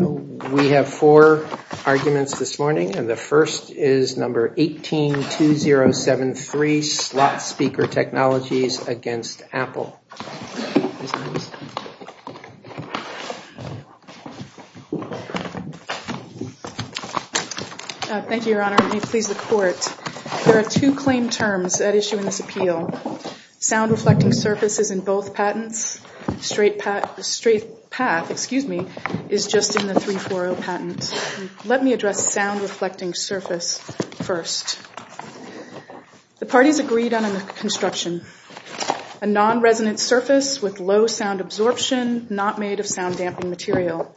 We have four arguments this morning, and the first is number 18-2073, Slot Speaker Technologies against Apple. Thank you, Your Honor. May it please the Court. There are two claim terms at issue in this appeal. Sound-reflecting surface is in both patents. Straight path is just in the 340 patent. Let me address sound-reflecting surface first. The parties agreed on a construction, a non-resonant surface with low sound absorption, not made of sound-damping material.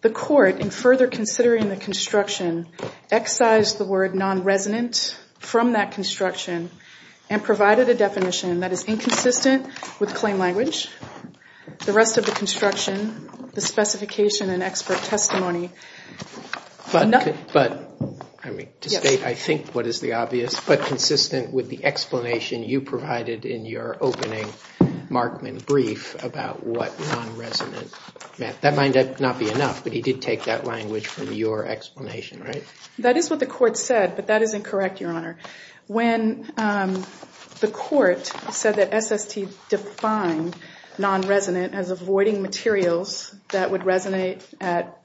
The Court, in further considering the construction, excised the word non-resonant from that construction and provided a definition that is inconsistent with claim language. The rest of the construction, the specification and expert testimony— But, to state, I think, what is the obvious, but consistent with the explanation you provided in your opening Markman brief about what non-resonant meant. That might not be enough, but he did take that language from your explanation, right? That is what the Court said, but that is incorrect, Your Honor. When the Court said that SST defined non-resonant as avoiding materials that would resonate at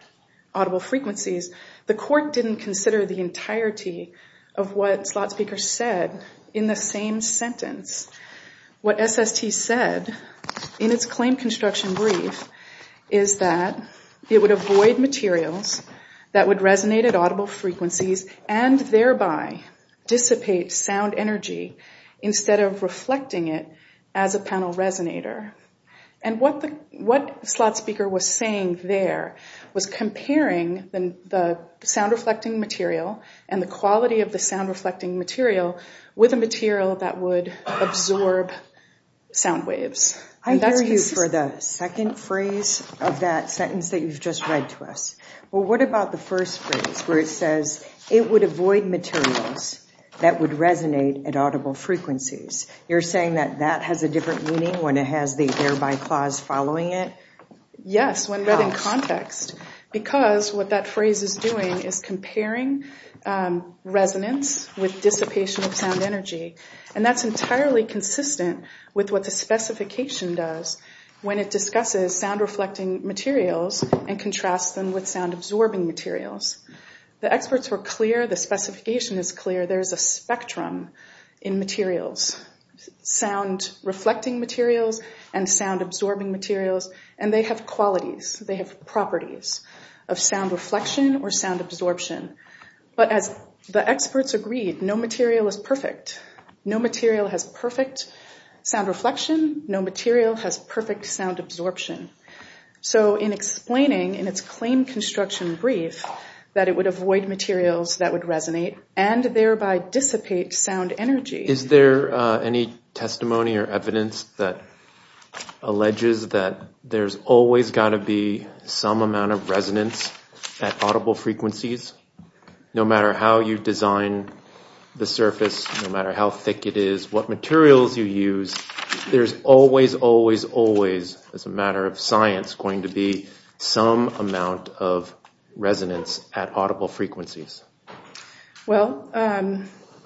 audible frequencies, the Court didn't consider the entirety of what Slot Speaker said in the same sentence. What SST said in its claim construction brief is that it would avoid materials that would resonate at audible frequencies and thereby dissipate sound energy instead of reflecting it as a panel resonator. And what Slot Speaker was saying there was comparing the sound-reflecting material and the quality of the sound-reflecting material with a material that would absorb sound waves. I hear you for the second phrase of that sentence that you've just read to us. Well, what about the first phrase where it says it would avoid materials that would resonate at audible frequencies? You're saying that that has a different meaning when it has the thereby clause following it? Yes, when read in context, because what that phrase is doing is comparing resonance with dissipation of sound energy, and that's entirely consistent with what the specification does when it discusses sound-reflecting materials and contrasts them with sound-absorbing materials. The experts were clear, the specification is clear, there is a spectrum in materials, sound-reflecting materials and sound-absorbing materials, and they have qualities, they have properties of sound reflection or sound absorption. But as the experts agreed, no material is perfect. No material has perfect sound reflection. No material has perfect sound absorption. So in explaining in its claim construction brief that it would avoid materials that would resonate and thereby dissipate sound energy. Is there any testimony or evidence that alleges that there's always got to be some amount of resonance at audible frequencies? No matter how you design the surface, no matter how thick it is, what materials you use, there's always, always, always, as a matter of science, going to be some amount of resonance at audible frequencies. Well,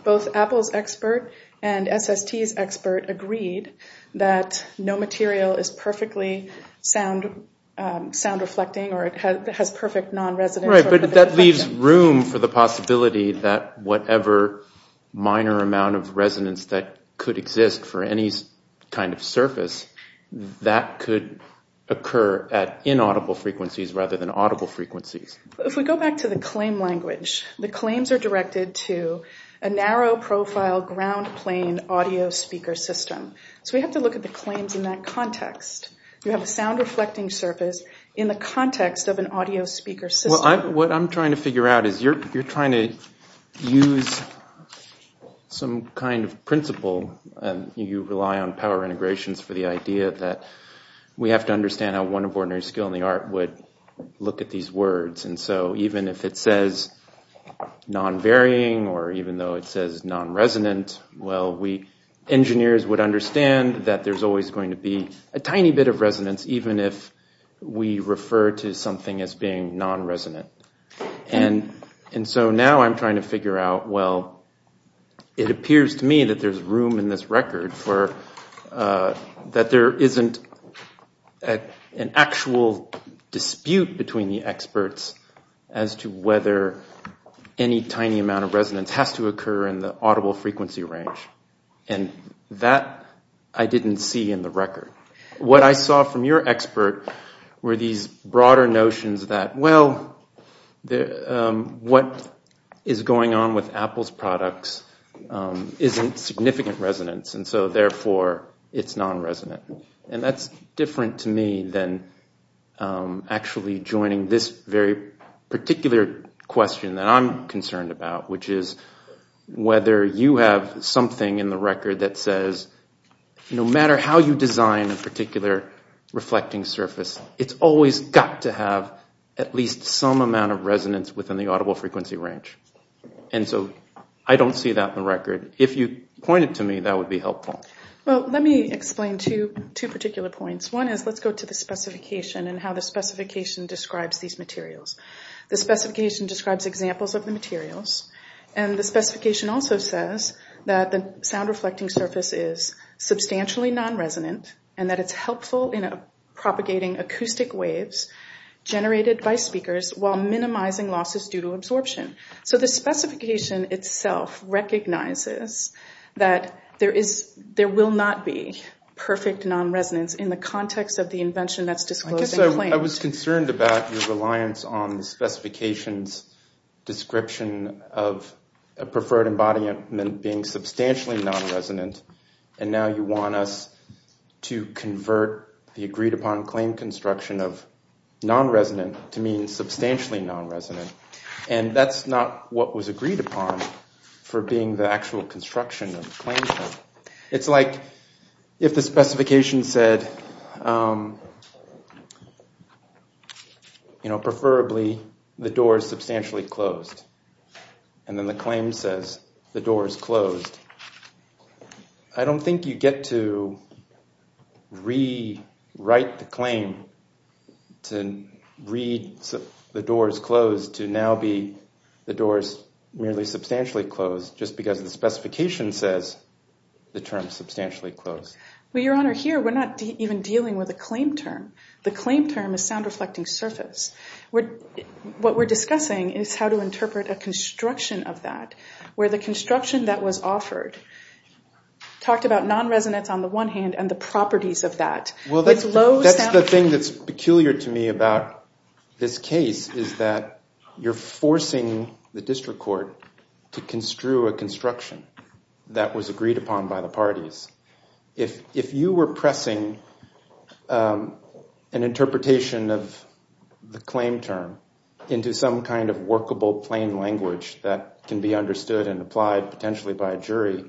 both Apple's expert and SST's expert agreed that no material is perfectly sound-reflecting or has perfect non-resonance. All right, but that leaves room for the possibility that whatever minor amount of resonance that could exist for any kind of surface, that could occur at inaudible frequencies rather than audible frequencies. If we go back to the claim language, the claims are directed to a narrow profile ground plane audio speaker system. So we have to look at the claims in that context. You have a sound-reflecting surface in the context of an audio speaker system. What I'm trying to figure out is you're trying to use some kind of principle. You rely on power integrations for the idea that we have to understand how one of ordinary skill in the art would look at these words. And so even if it says non-varying or even though it says non-resonant, well, we engineers would understand that there's always going to be a tiny bit of resonance, even if we refer to something as being non-resonant. And so now I'm trying to figure out, well, it appears to me that there's room in this record for, that there isn't an actual dispute between the experts as to whether any tiny amount of resonance has to occur in the audible frequency range. And that I didn't see in the record. What I saw from your expert were these broader notions that, well, what is going on with Apple's products isn't significant resonance. And so therefore it's non-resonant. And that's different to me than actually joining this very particular question that I'm concerned about, which is whether you have something in the record that says no matter how you design a particular reflecting surface, it's always got to have at least some amount of resonance within the audible frequency range. And so I don't see that in the record. If you point it to me, that would be helpful. Well, let me explain two particular points. One is let's go to the specification and how the specification describes these materials. The specification describes examples of the materials. And the specification also says that the sound reflecting surface is substantially non-resonant and that it's helpful in propagating acoustic waves generated by speakers while minimizing losses due to absorption. So the specification itself recognizes that there will not be perfect non-resonance in the context of the invention that's disclosed and claimed. I guess I was concerned about your reliance on the specification's description of a preferred embodiment being substantially non-resonant. And now you want us to convert the agreed-upon claim construction of non-resonant to mean substantially non-resonant. And that's not what was agreed upon for being the actual construction of the claim. It's like if the specification said, you know, preferably the door is substantially closed. And then the claim says the door is closed. I don't think you get to rewrite the claim to read the door is closed to now be the door is merely substantially closed just because the specification says the term substantially closed. Well, Your Honor, here we're not even dealing with a claim term. The claim term is sound reflecting surface. What we're discussing is how to interpret a construction of that where the construction that was offered talked about non-resonance on the one hand and the properties of that. Well, that's the thing that's peculiar to me about this case is that you're forcing the district court to construe a construction that was agreed upon by the parties. If you were pressing an interpretation of the claim term into some kind of workable plain language that can be understood and applied potentially by a jury,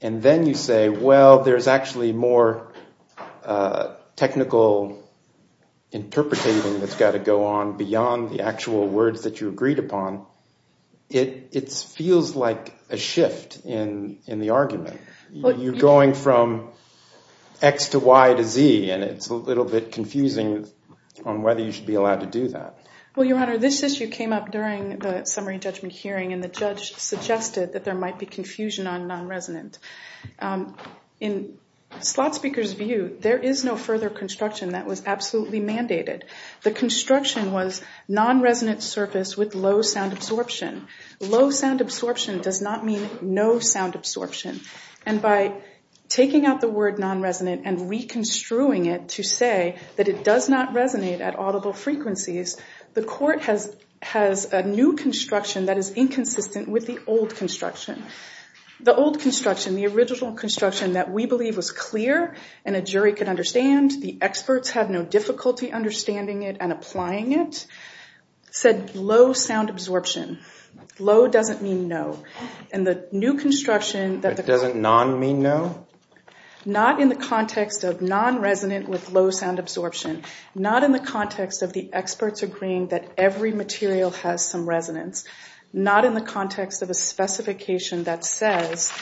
and then you say, well, there's actually more technical interpreting that's got to go on beyond the actual words that you agreed upon, it feels like a shift in the argument. You're going from X to Y to Z, and it's a little bit confusing on whether you should be allowed to do that. Well, Your Honor, this issue came up during the summary judgment hearing, and the judge suggested that there might be confusion on non-resonant. In slot speaker's view, there is no further construction that was absolutely mandated. The construction was non-resonant surface with low sound absorption. Low sound absorption does not mean no sound absorption. And by taking out the word non-resonant and reconstruing it to say that it does not resonate at audible frequencies, the court has a new construction that is inconsistent with the old construction. The old construction, the original construction that we believe was clear and a jury could understand, the experts had no difficulty understanding it and applying it, said low sound absorption. Low doesn't mean no. And the new construction that the court— It doesn't non-mean no? Not in the context of non-resonant with low sound absorption. Not in the context of the experts agreeing that every material has some resonance. Not in the context of a specification that says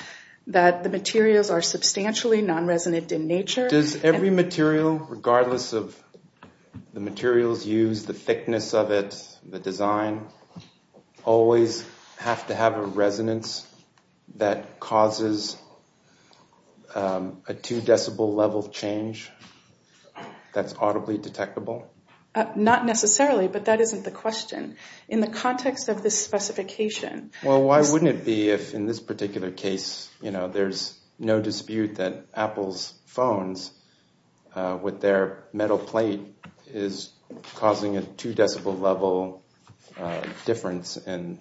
that the materials are substantially non-resonant in nature. Does every material, regardless of the materials used, the thickness of it, the design, always have to have a resonance that causes a two decibel level change that's audibly detectable? Not necessarily, but that isn't the question. Well, why wouldn't it be if in this particular case, you know, there's no dispute that Apple's phones with their metal plate is causing a two decibel level difference in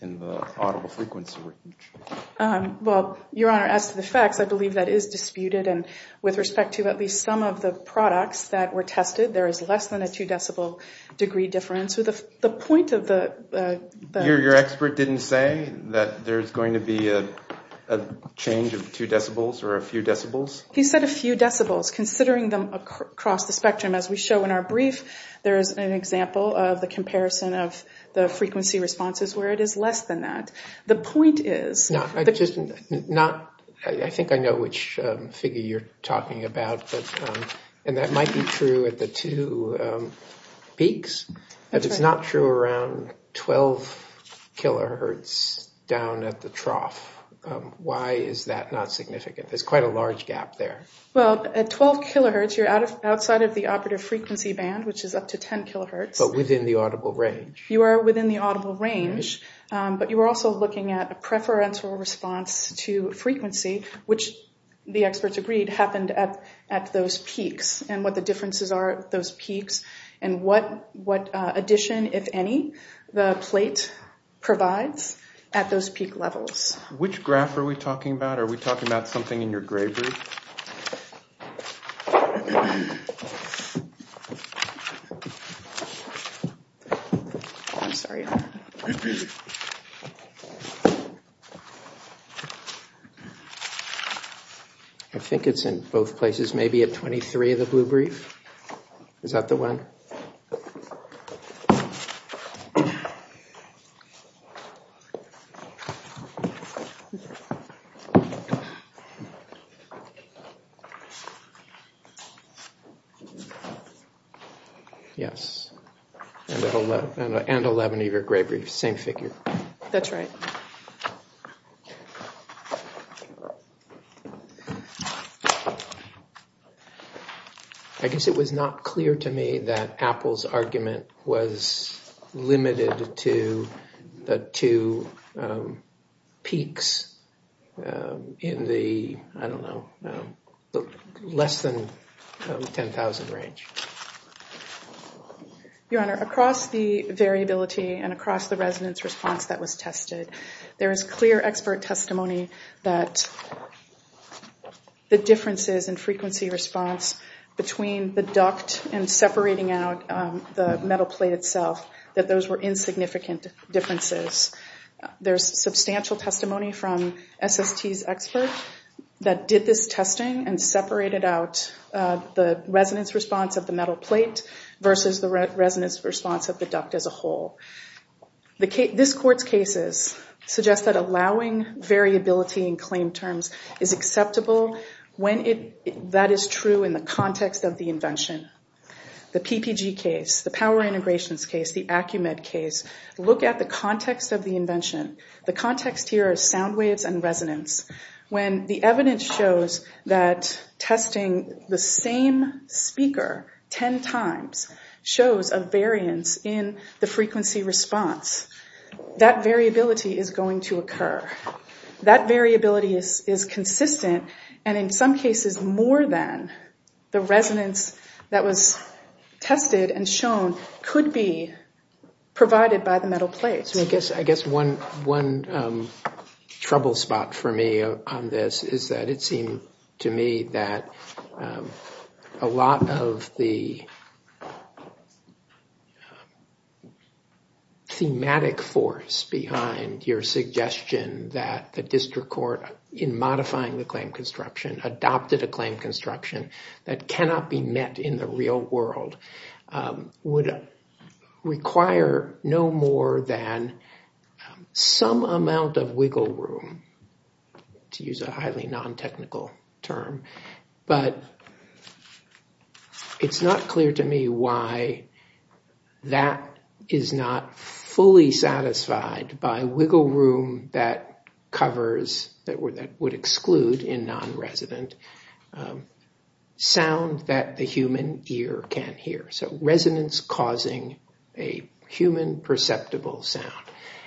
the audible frequency range? Well, Your Honor, as to the facts, I believe that is disputed. And with respect to at least some of the products that were tested, there is less than a two decibel degree difference. The point of the— Your expert didn't say that there's going to be a change of two decibels or a few decibels? He said a few decibels, considering them across the spectrum. As we show in our brief, there is an example of the comparison of the frequency responses where it is less than that. I think I know which figure you're talking about, and that might be true at the two peaks, but it's not true around 12 kilohertz down at the trough. Why is that not significant? There's quite a large gap there. Well, at 12 kilohertz, you're outside of the operative frequency band, which is up to 10 kilohertz. But within the audible range. You are within the audible range, but you are also looking at a preferential response to frequency, which the experts agreed happened at those peaks and what the differences are at those peaks and what addition, if any, the plate provides at those peak levels. Which graph are we talking about? Are we talking about something in your gray brief? I'm sorry. I think it's in both places, maybe at 23 of the blue brief. Is that the one? Yes. Yes. And 11 of your gray brief, same figure. That's right. I guess it was not clear to me that Apple's argument was limited to the two peaks in the, I don't know, less than 10,000 range. Your Honor, across the variability and across the resonance response that was tested, there is clear expert testimony that the differences in frequency response between the duct and separating out the metal plate itself, that those were insignificant differences. There's substantial testimony from SST's experts that did this testing and separated out the resonance response of the metal plate versus the resonance response of the duct as a whole. This Court's cases suggest that allowing variability in claim terms is acceptable when that is true in the context of the invention. The PPG case, the power integrations case, the Acumed case, look at the context of the invention. The context here is sound waves and resonance. When the evidence shows that testing the same speaker 10 times shows a variance in the frequency response, that variability is going to occur. That variability is consistent and in some cases more than the resonance that was tested and shown could be provided by the metal plate. I guess one trouble spot for me on this is that it seemed to me that a lot of the thematic force behind your suggestion that the district court, in modifying the claim construction, adopted a claim construction that cannot be met in the real world, would require no more than some amount of wiggle room, to use a highly non-technical term, but it's not clear to me why that is not fully satisfied by wiggle room that covers, that would exclude in non-resident, sound that the human ear can't hear. So resonance causing a human perceptible sound.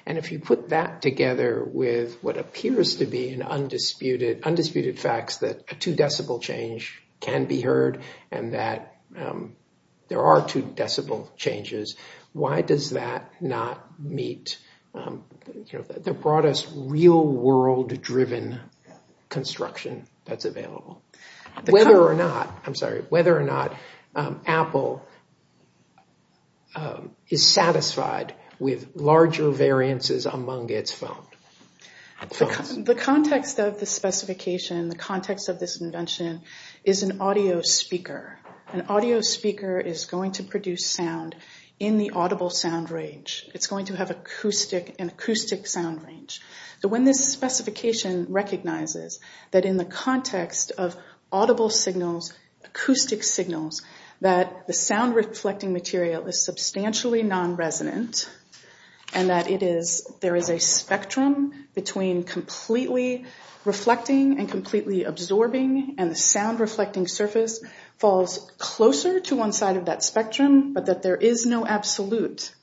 If you put that together with what appears to be undisputed facts that a two decibel change can be heard and that there are two decibel changes, why does that not meet the broadest real world driven construction that's available? Whether or not, I'm sorry, whether or not Apple is satisfied with larger variances among its phones. The context of this specification, the context of this invention is an audio speaker. An audio speaker is going to produce sound in the audible sound range. It's going to have an acoustic sound range. So when this specification recognizes that in the context of audible signals, acoustic signals, that the sound reflecting material is substantially non-resonant and that it is, there is a spectrum between completely reflecting and completely absorbing and the sound reflecting surface falls closer to one side of that spectrum, but that there is no absolute.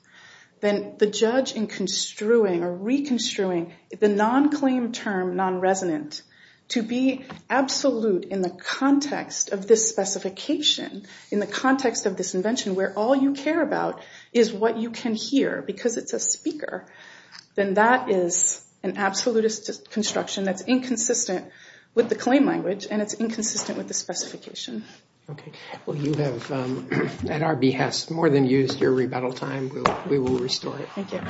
Then the judge in construing or reconstruing the non-claim term non-resonant to be absolute in the context of this specification, in the context of this invention where all you care about is what you can hear because it's a speaker, then that is an absolutist construction that's inconsistent with the claim language and it's inconsistent with the specification. Okay. Well, you have, at our behest, more than used your rebuttal time. We will restore it. Thank you.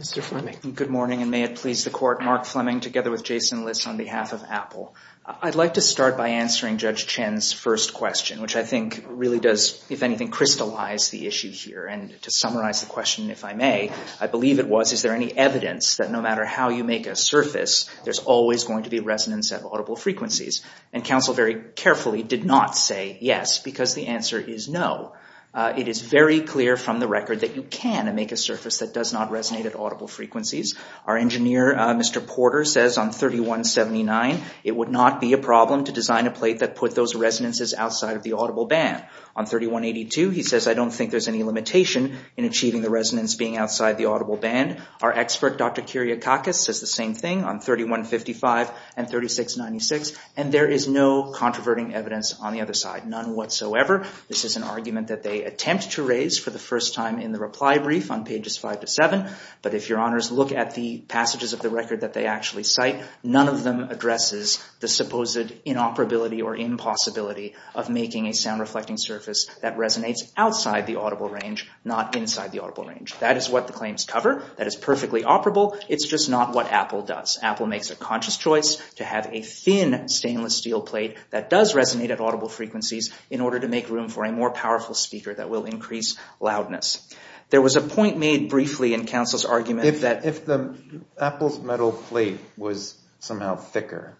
Mr. Fleming. Good morning and may it please the court. Mark Fleming together with Jason Liss on behalf of Apple. I'd like to start by answering Judge Chen's first question, which I think really does, if anything, crystallize the issue here and to summarize the question, if I may, I believe it was, is there any evidence that no matter how you make a surface, there's always going to be resonance at audible frequencies? And counsel very carefully did not say yes because the answer is no. It is very clear from the record that you can make a surface that does not resonate at audible frequencies. Our engineer, Mr. Porter, says on 3179, it would not be a problem to design a plate that put those resonances outside of the audible band. On 3182, he says, I don't think there's any limitation in achieving the resonance being outside the audible band. Our expert, Dr. Kyriakakis, says the same thing on 3155 and 3696. And there is no controverting evidence on the other side, none whatsoever. This is an argument that they attempt to raise for the first time in the reply brief on pages five to seven. But if your honors look at the passages of the record that they actually cite, none of them addresses the supposed inoperability or impossibility of making a sound reflecting surface that resonates outside the audible range, not inside the audible range. That is what the claims cover. That is perfectly operable. It's just not what Apple does. Apple makes a conscious choice to have a thin stainless steel plate that does resonate at audible frequencies in order to make room for a more powerful speaker that will increase loudness. There was a point made briefly in counsel's argument that If the Apple's metal plate was somehow thicker,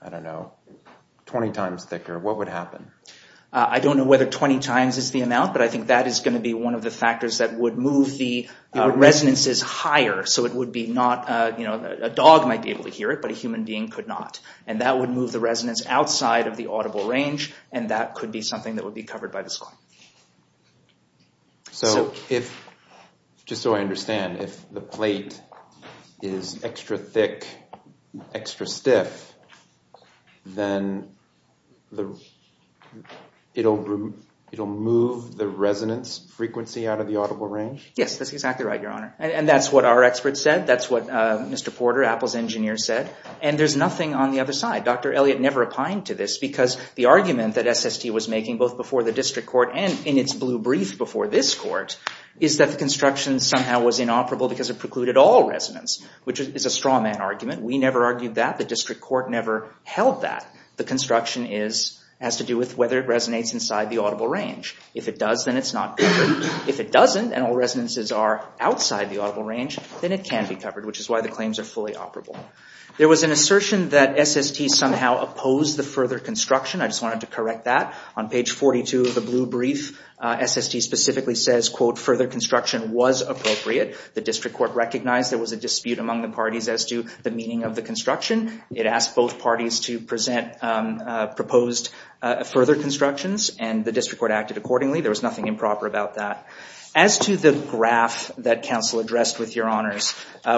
I don't know, 20 times thicker, what would happen? I don't know whether 20 times is the amount, but I think that is going to be one of the factors that would move the resonances higher. So it would be not, you know, a dog might be able to hear it, but a human being could not. And that would move the resonance outside of the audible range, and that could be something that would be covered by this claim. So if, just so I understand, if the plate is extra thick, extra stiff, then it'll move the resonance frequency out of the audible range? Yes, that's exactly right, Your Honor. And that's what our experts said. That's what Mr. Porter, Apple's engineer, said. And there's nothing on the other side. Dr. Elliott never opined to this because the argument that SST was making, both before the district court and in its blue brief before this court, is that the construction somehow was inoperable because it precluded all resonance, which is a straw man argument. We never argued that. The district court never held that. The construction has to do with whether it resonates inside the audible range. If it does, then it's not covered. If it doesn't, and all resonances are outside the audible range, then it can be covered, which is why the claims are fully operable. There was an assertion that SST somehow opposed the further construction. I just wanted to correct that. On page 42 of the blue brief, SST specifically says, quote, further construction was appropriate. The district court recognized there was a dispute among the parties as to the meaning of the construction. It asked both parties to present proposed further constructions, and the district court acted accordingly. There was nothing improper about that. As to the graph that counsel addressed with your honors,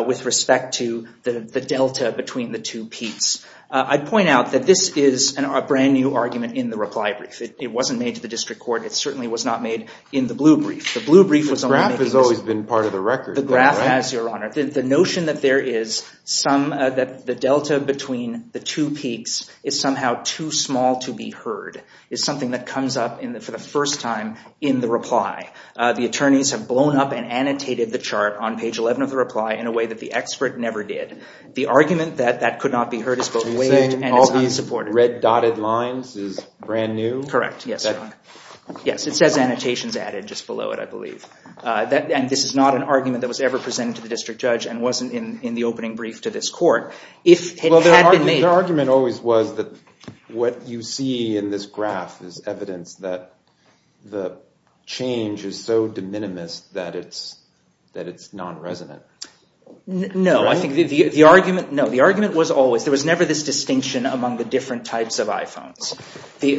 with respect to the delta between the two peaks, I'd point out that this is a brand new argument in the reply brief. It wasn't made to the district court. It certainly was not made in the blue brief. The blue brief was only making this. The graph has always been part of the record. The graph has, your honor. The notion that there is some, that the delta between the two peaks is somehow too small to be heard is something that comes up for the first time in the reply. The attorneys have blown up and annotated the chart on page 11 of the reply in a way that the expert never did. The argument that that could not be heard is both waived and is unsupported. So you're saying all these red dotted lines is brand new? Correct, yes. Yes, it says annotations added just below it, I believe. And this is not an argument that was ever presented to the district judge and wasn't in the opening brief to this court. Well, their argument always was that what you see in this graph is evidence that the change is so de minimis that it's non-resonant. No, I think the argument, no, the argument was always, there was never this distinction among the different types of iPhones.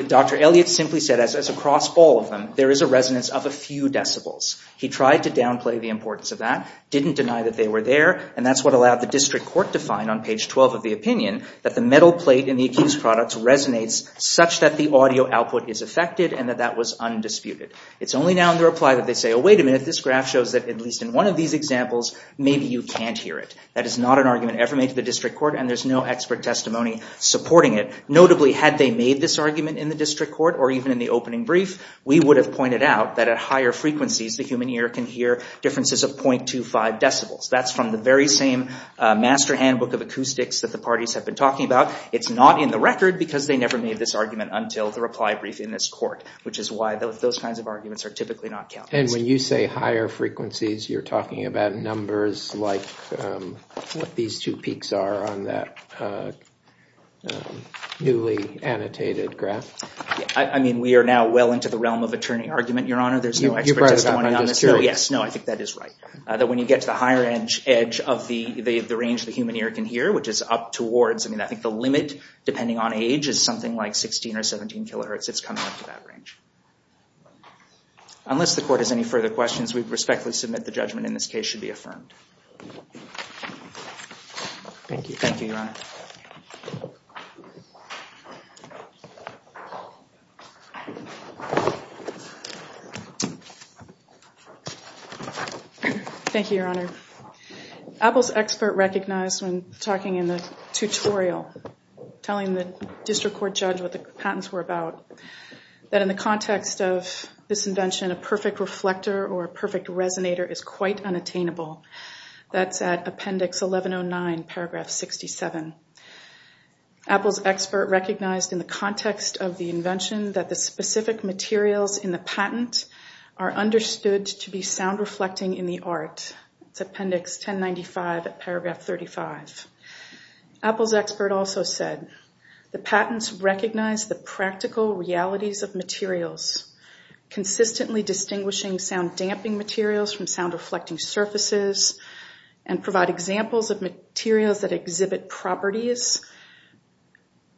Dr. Elliott simply said as a cross ball of them, there is a resonance of a few decibels. He tried to downplay the importance of that, didn't deny that they were there, and that's what allowed the district court to find on page 12 of the opinion that the metal plate in the accused product resonates such that the audio output is affected and that that was undisputed. It's only now in the reply that they say, oh, wait a minute, this graph shows that at least in one of these examples, maybe you can't hear it. That is not an argument ever made to the district court and there's no expert testimony supporting it. Notably, had they made this argument in the district court or even in the opening brief, we would have pointed out that at higher frequencies, the human ear can hear differences of 0.25 decibels. That's from the very same master handbook of acoustics that the parties have been talking about. It's not in the record because they never made this argument until the reply briefing in this court, which is why those kinds of arguments are typically not counted. And when you say higher frequencies, you're talking about numbers like what these two peaks are on that newly annotated graph? I mean, we are now well into the realm of attorney argument, Your Honor. There's no expert testimony on this. You're right about that. I'm just curious. Yes, no, I think that is right. That when you get to the higher edge of the range the human ear can hear, which is up towards, I mean, I think the limit depending on age is something like 16 or 17 kilohertz. It's coming up to that range. Unless the court has any further questions, we respectfully submit the judgment in this case should be affirmed. Thank you. Thank you, Your Honor. Apple's expert recognized when talking in the tutorial, telling the district court judge what the patents were about, that in the context of this invention, a perfect reflector or a perfect resonator is quite unattainable. That's at Appendix 1109, paragraph 67. Apple's expert recognized in the context of the invention that the specific materials in the patent are understood to be sound reflecting in the art. It's Appendix 1095 at paragraph 35. Apple's expert also said, the patents recognize the practical realities of materials, consistently distinguishing sound damping materials from sound reflecting surfaces and provide examples of materials that exhibit properties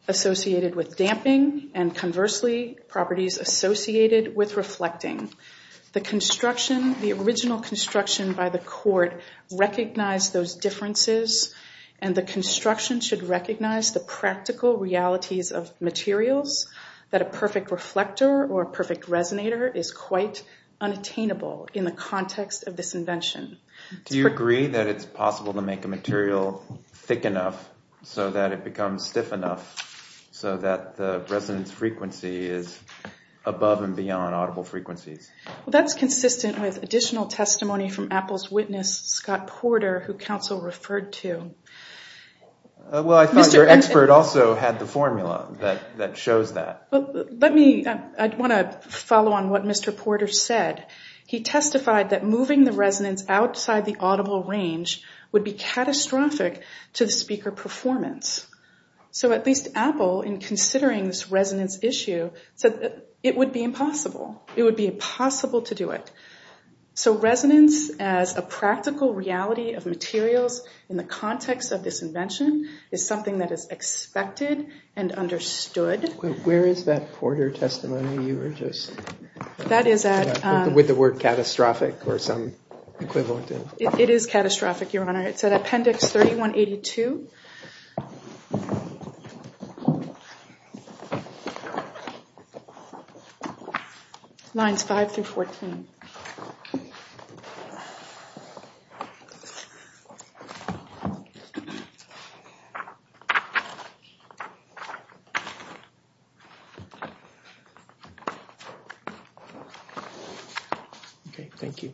associated with damping and conversely properties associated with reflecting. The construction, the original construction by the court recognized those differences and the construction should recognize the practical realities of materials that a perfect reflector or a perfect resonator is quite unattainable in the context of this invention. Do you agree that it's possible to make a material thick enough so that it becomes stiff enough so that the resonance frequency is above and beyond audible frequencies? That's consistent with additional testimony from Apple's witness, Scott Porter, who counsel referred to. I thought your expert also had the formula that shows that. I want to follow on what Mr. Porter said. He testified that moving the resonance outside the audible range would be catastrophic to the speaker performance. So at least Apple, in considering this resonance issue, said it would be impossible. It would be impossible to do it. So resonance as a practical reality of materials in the context of this invention is something that is expected and understood. Where is that Porter testimony you were just... That is at... With the word catastrophic or some equivalent. It is catastrophic, Your Honor. It's at Appendix 3182. Lines 5 through 14. Okay, thank you.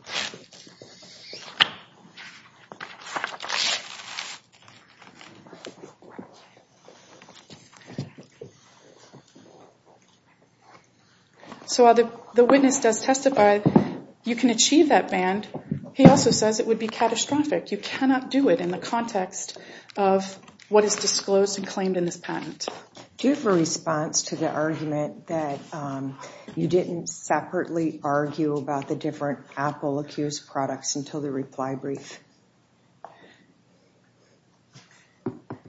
Thank you. So while the witness does testify you can achieve that band, he also says it would be catastrophic. You cannot do it in the context of what is disclosed and claimed in this patent. Do you have a response to the argument that you didn't separately argue about the different Apple-accused products until the reply brief?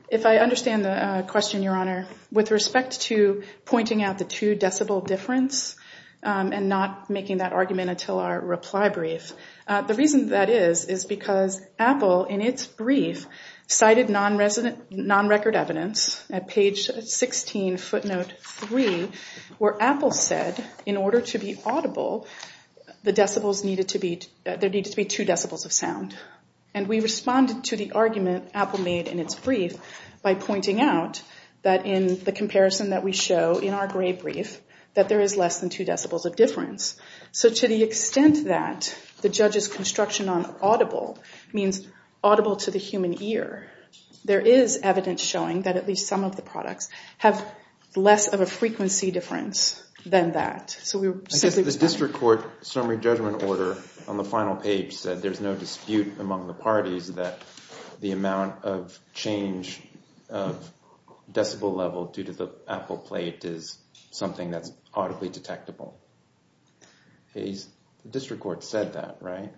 If I understand the question, Your Honor, with respect to pointing out the two-decibel difference and not making that argument until our reply brief, the reason that is is because Apple, in its brief, cited non-record evidence at page 16, footnote 3, where Apple said in order to be audible there needed to be two decibels of sound. And we responded to the argument Apple made in its brief by pointing out that in the comparison that we show in our brief that there is less than two decibels of difference. So to the extent that the judge's construction on audible means audible to the human ear, there is evidence showing that at least some of the products have less of a frequency difference than that. I guess the district court summary judgment order on the final page said there's no dispute among the parties that the amount of change of decibel level due to the Apple plate is something that's audibly detectable. The district court said that, right?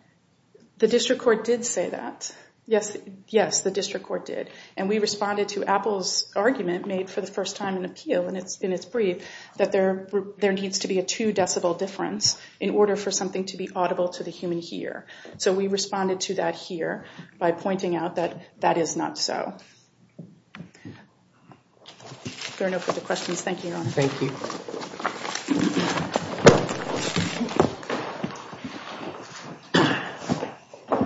The district court did say that. Yes, the district court did. And we responded to Apple's argument made for the first time in appeal in its brief that there needs to be a two decibel difference in order for something to be audible to the human ear. So we responded to that here by pointing out that that is not so. There are no further questions. Thank you, Your Honor. Thank you.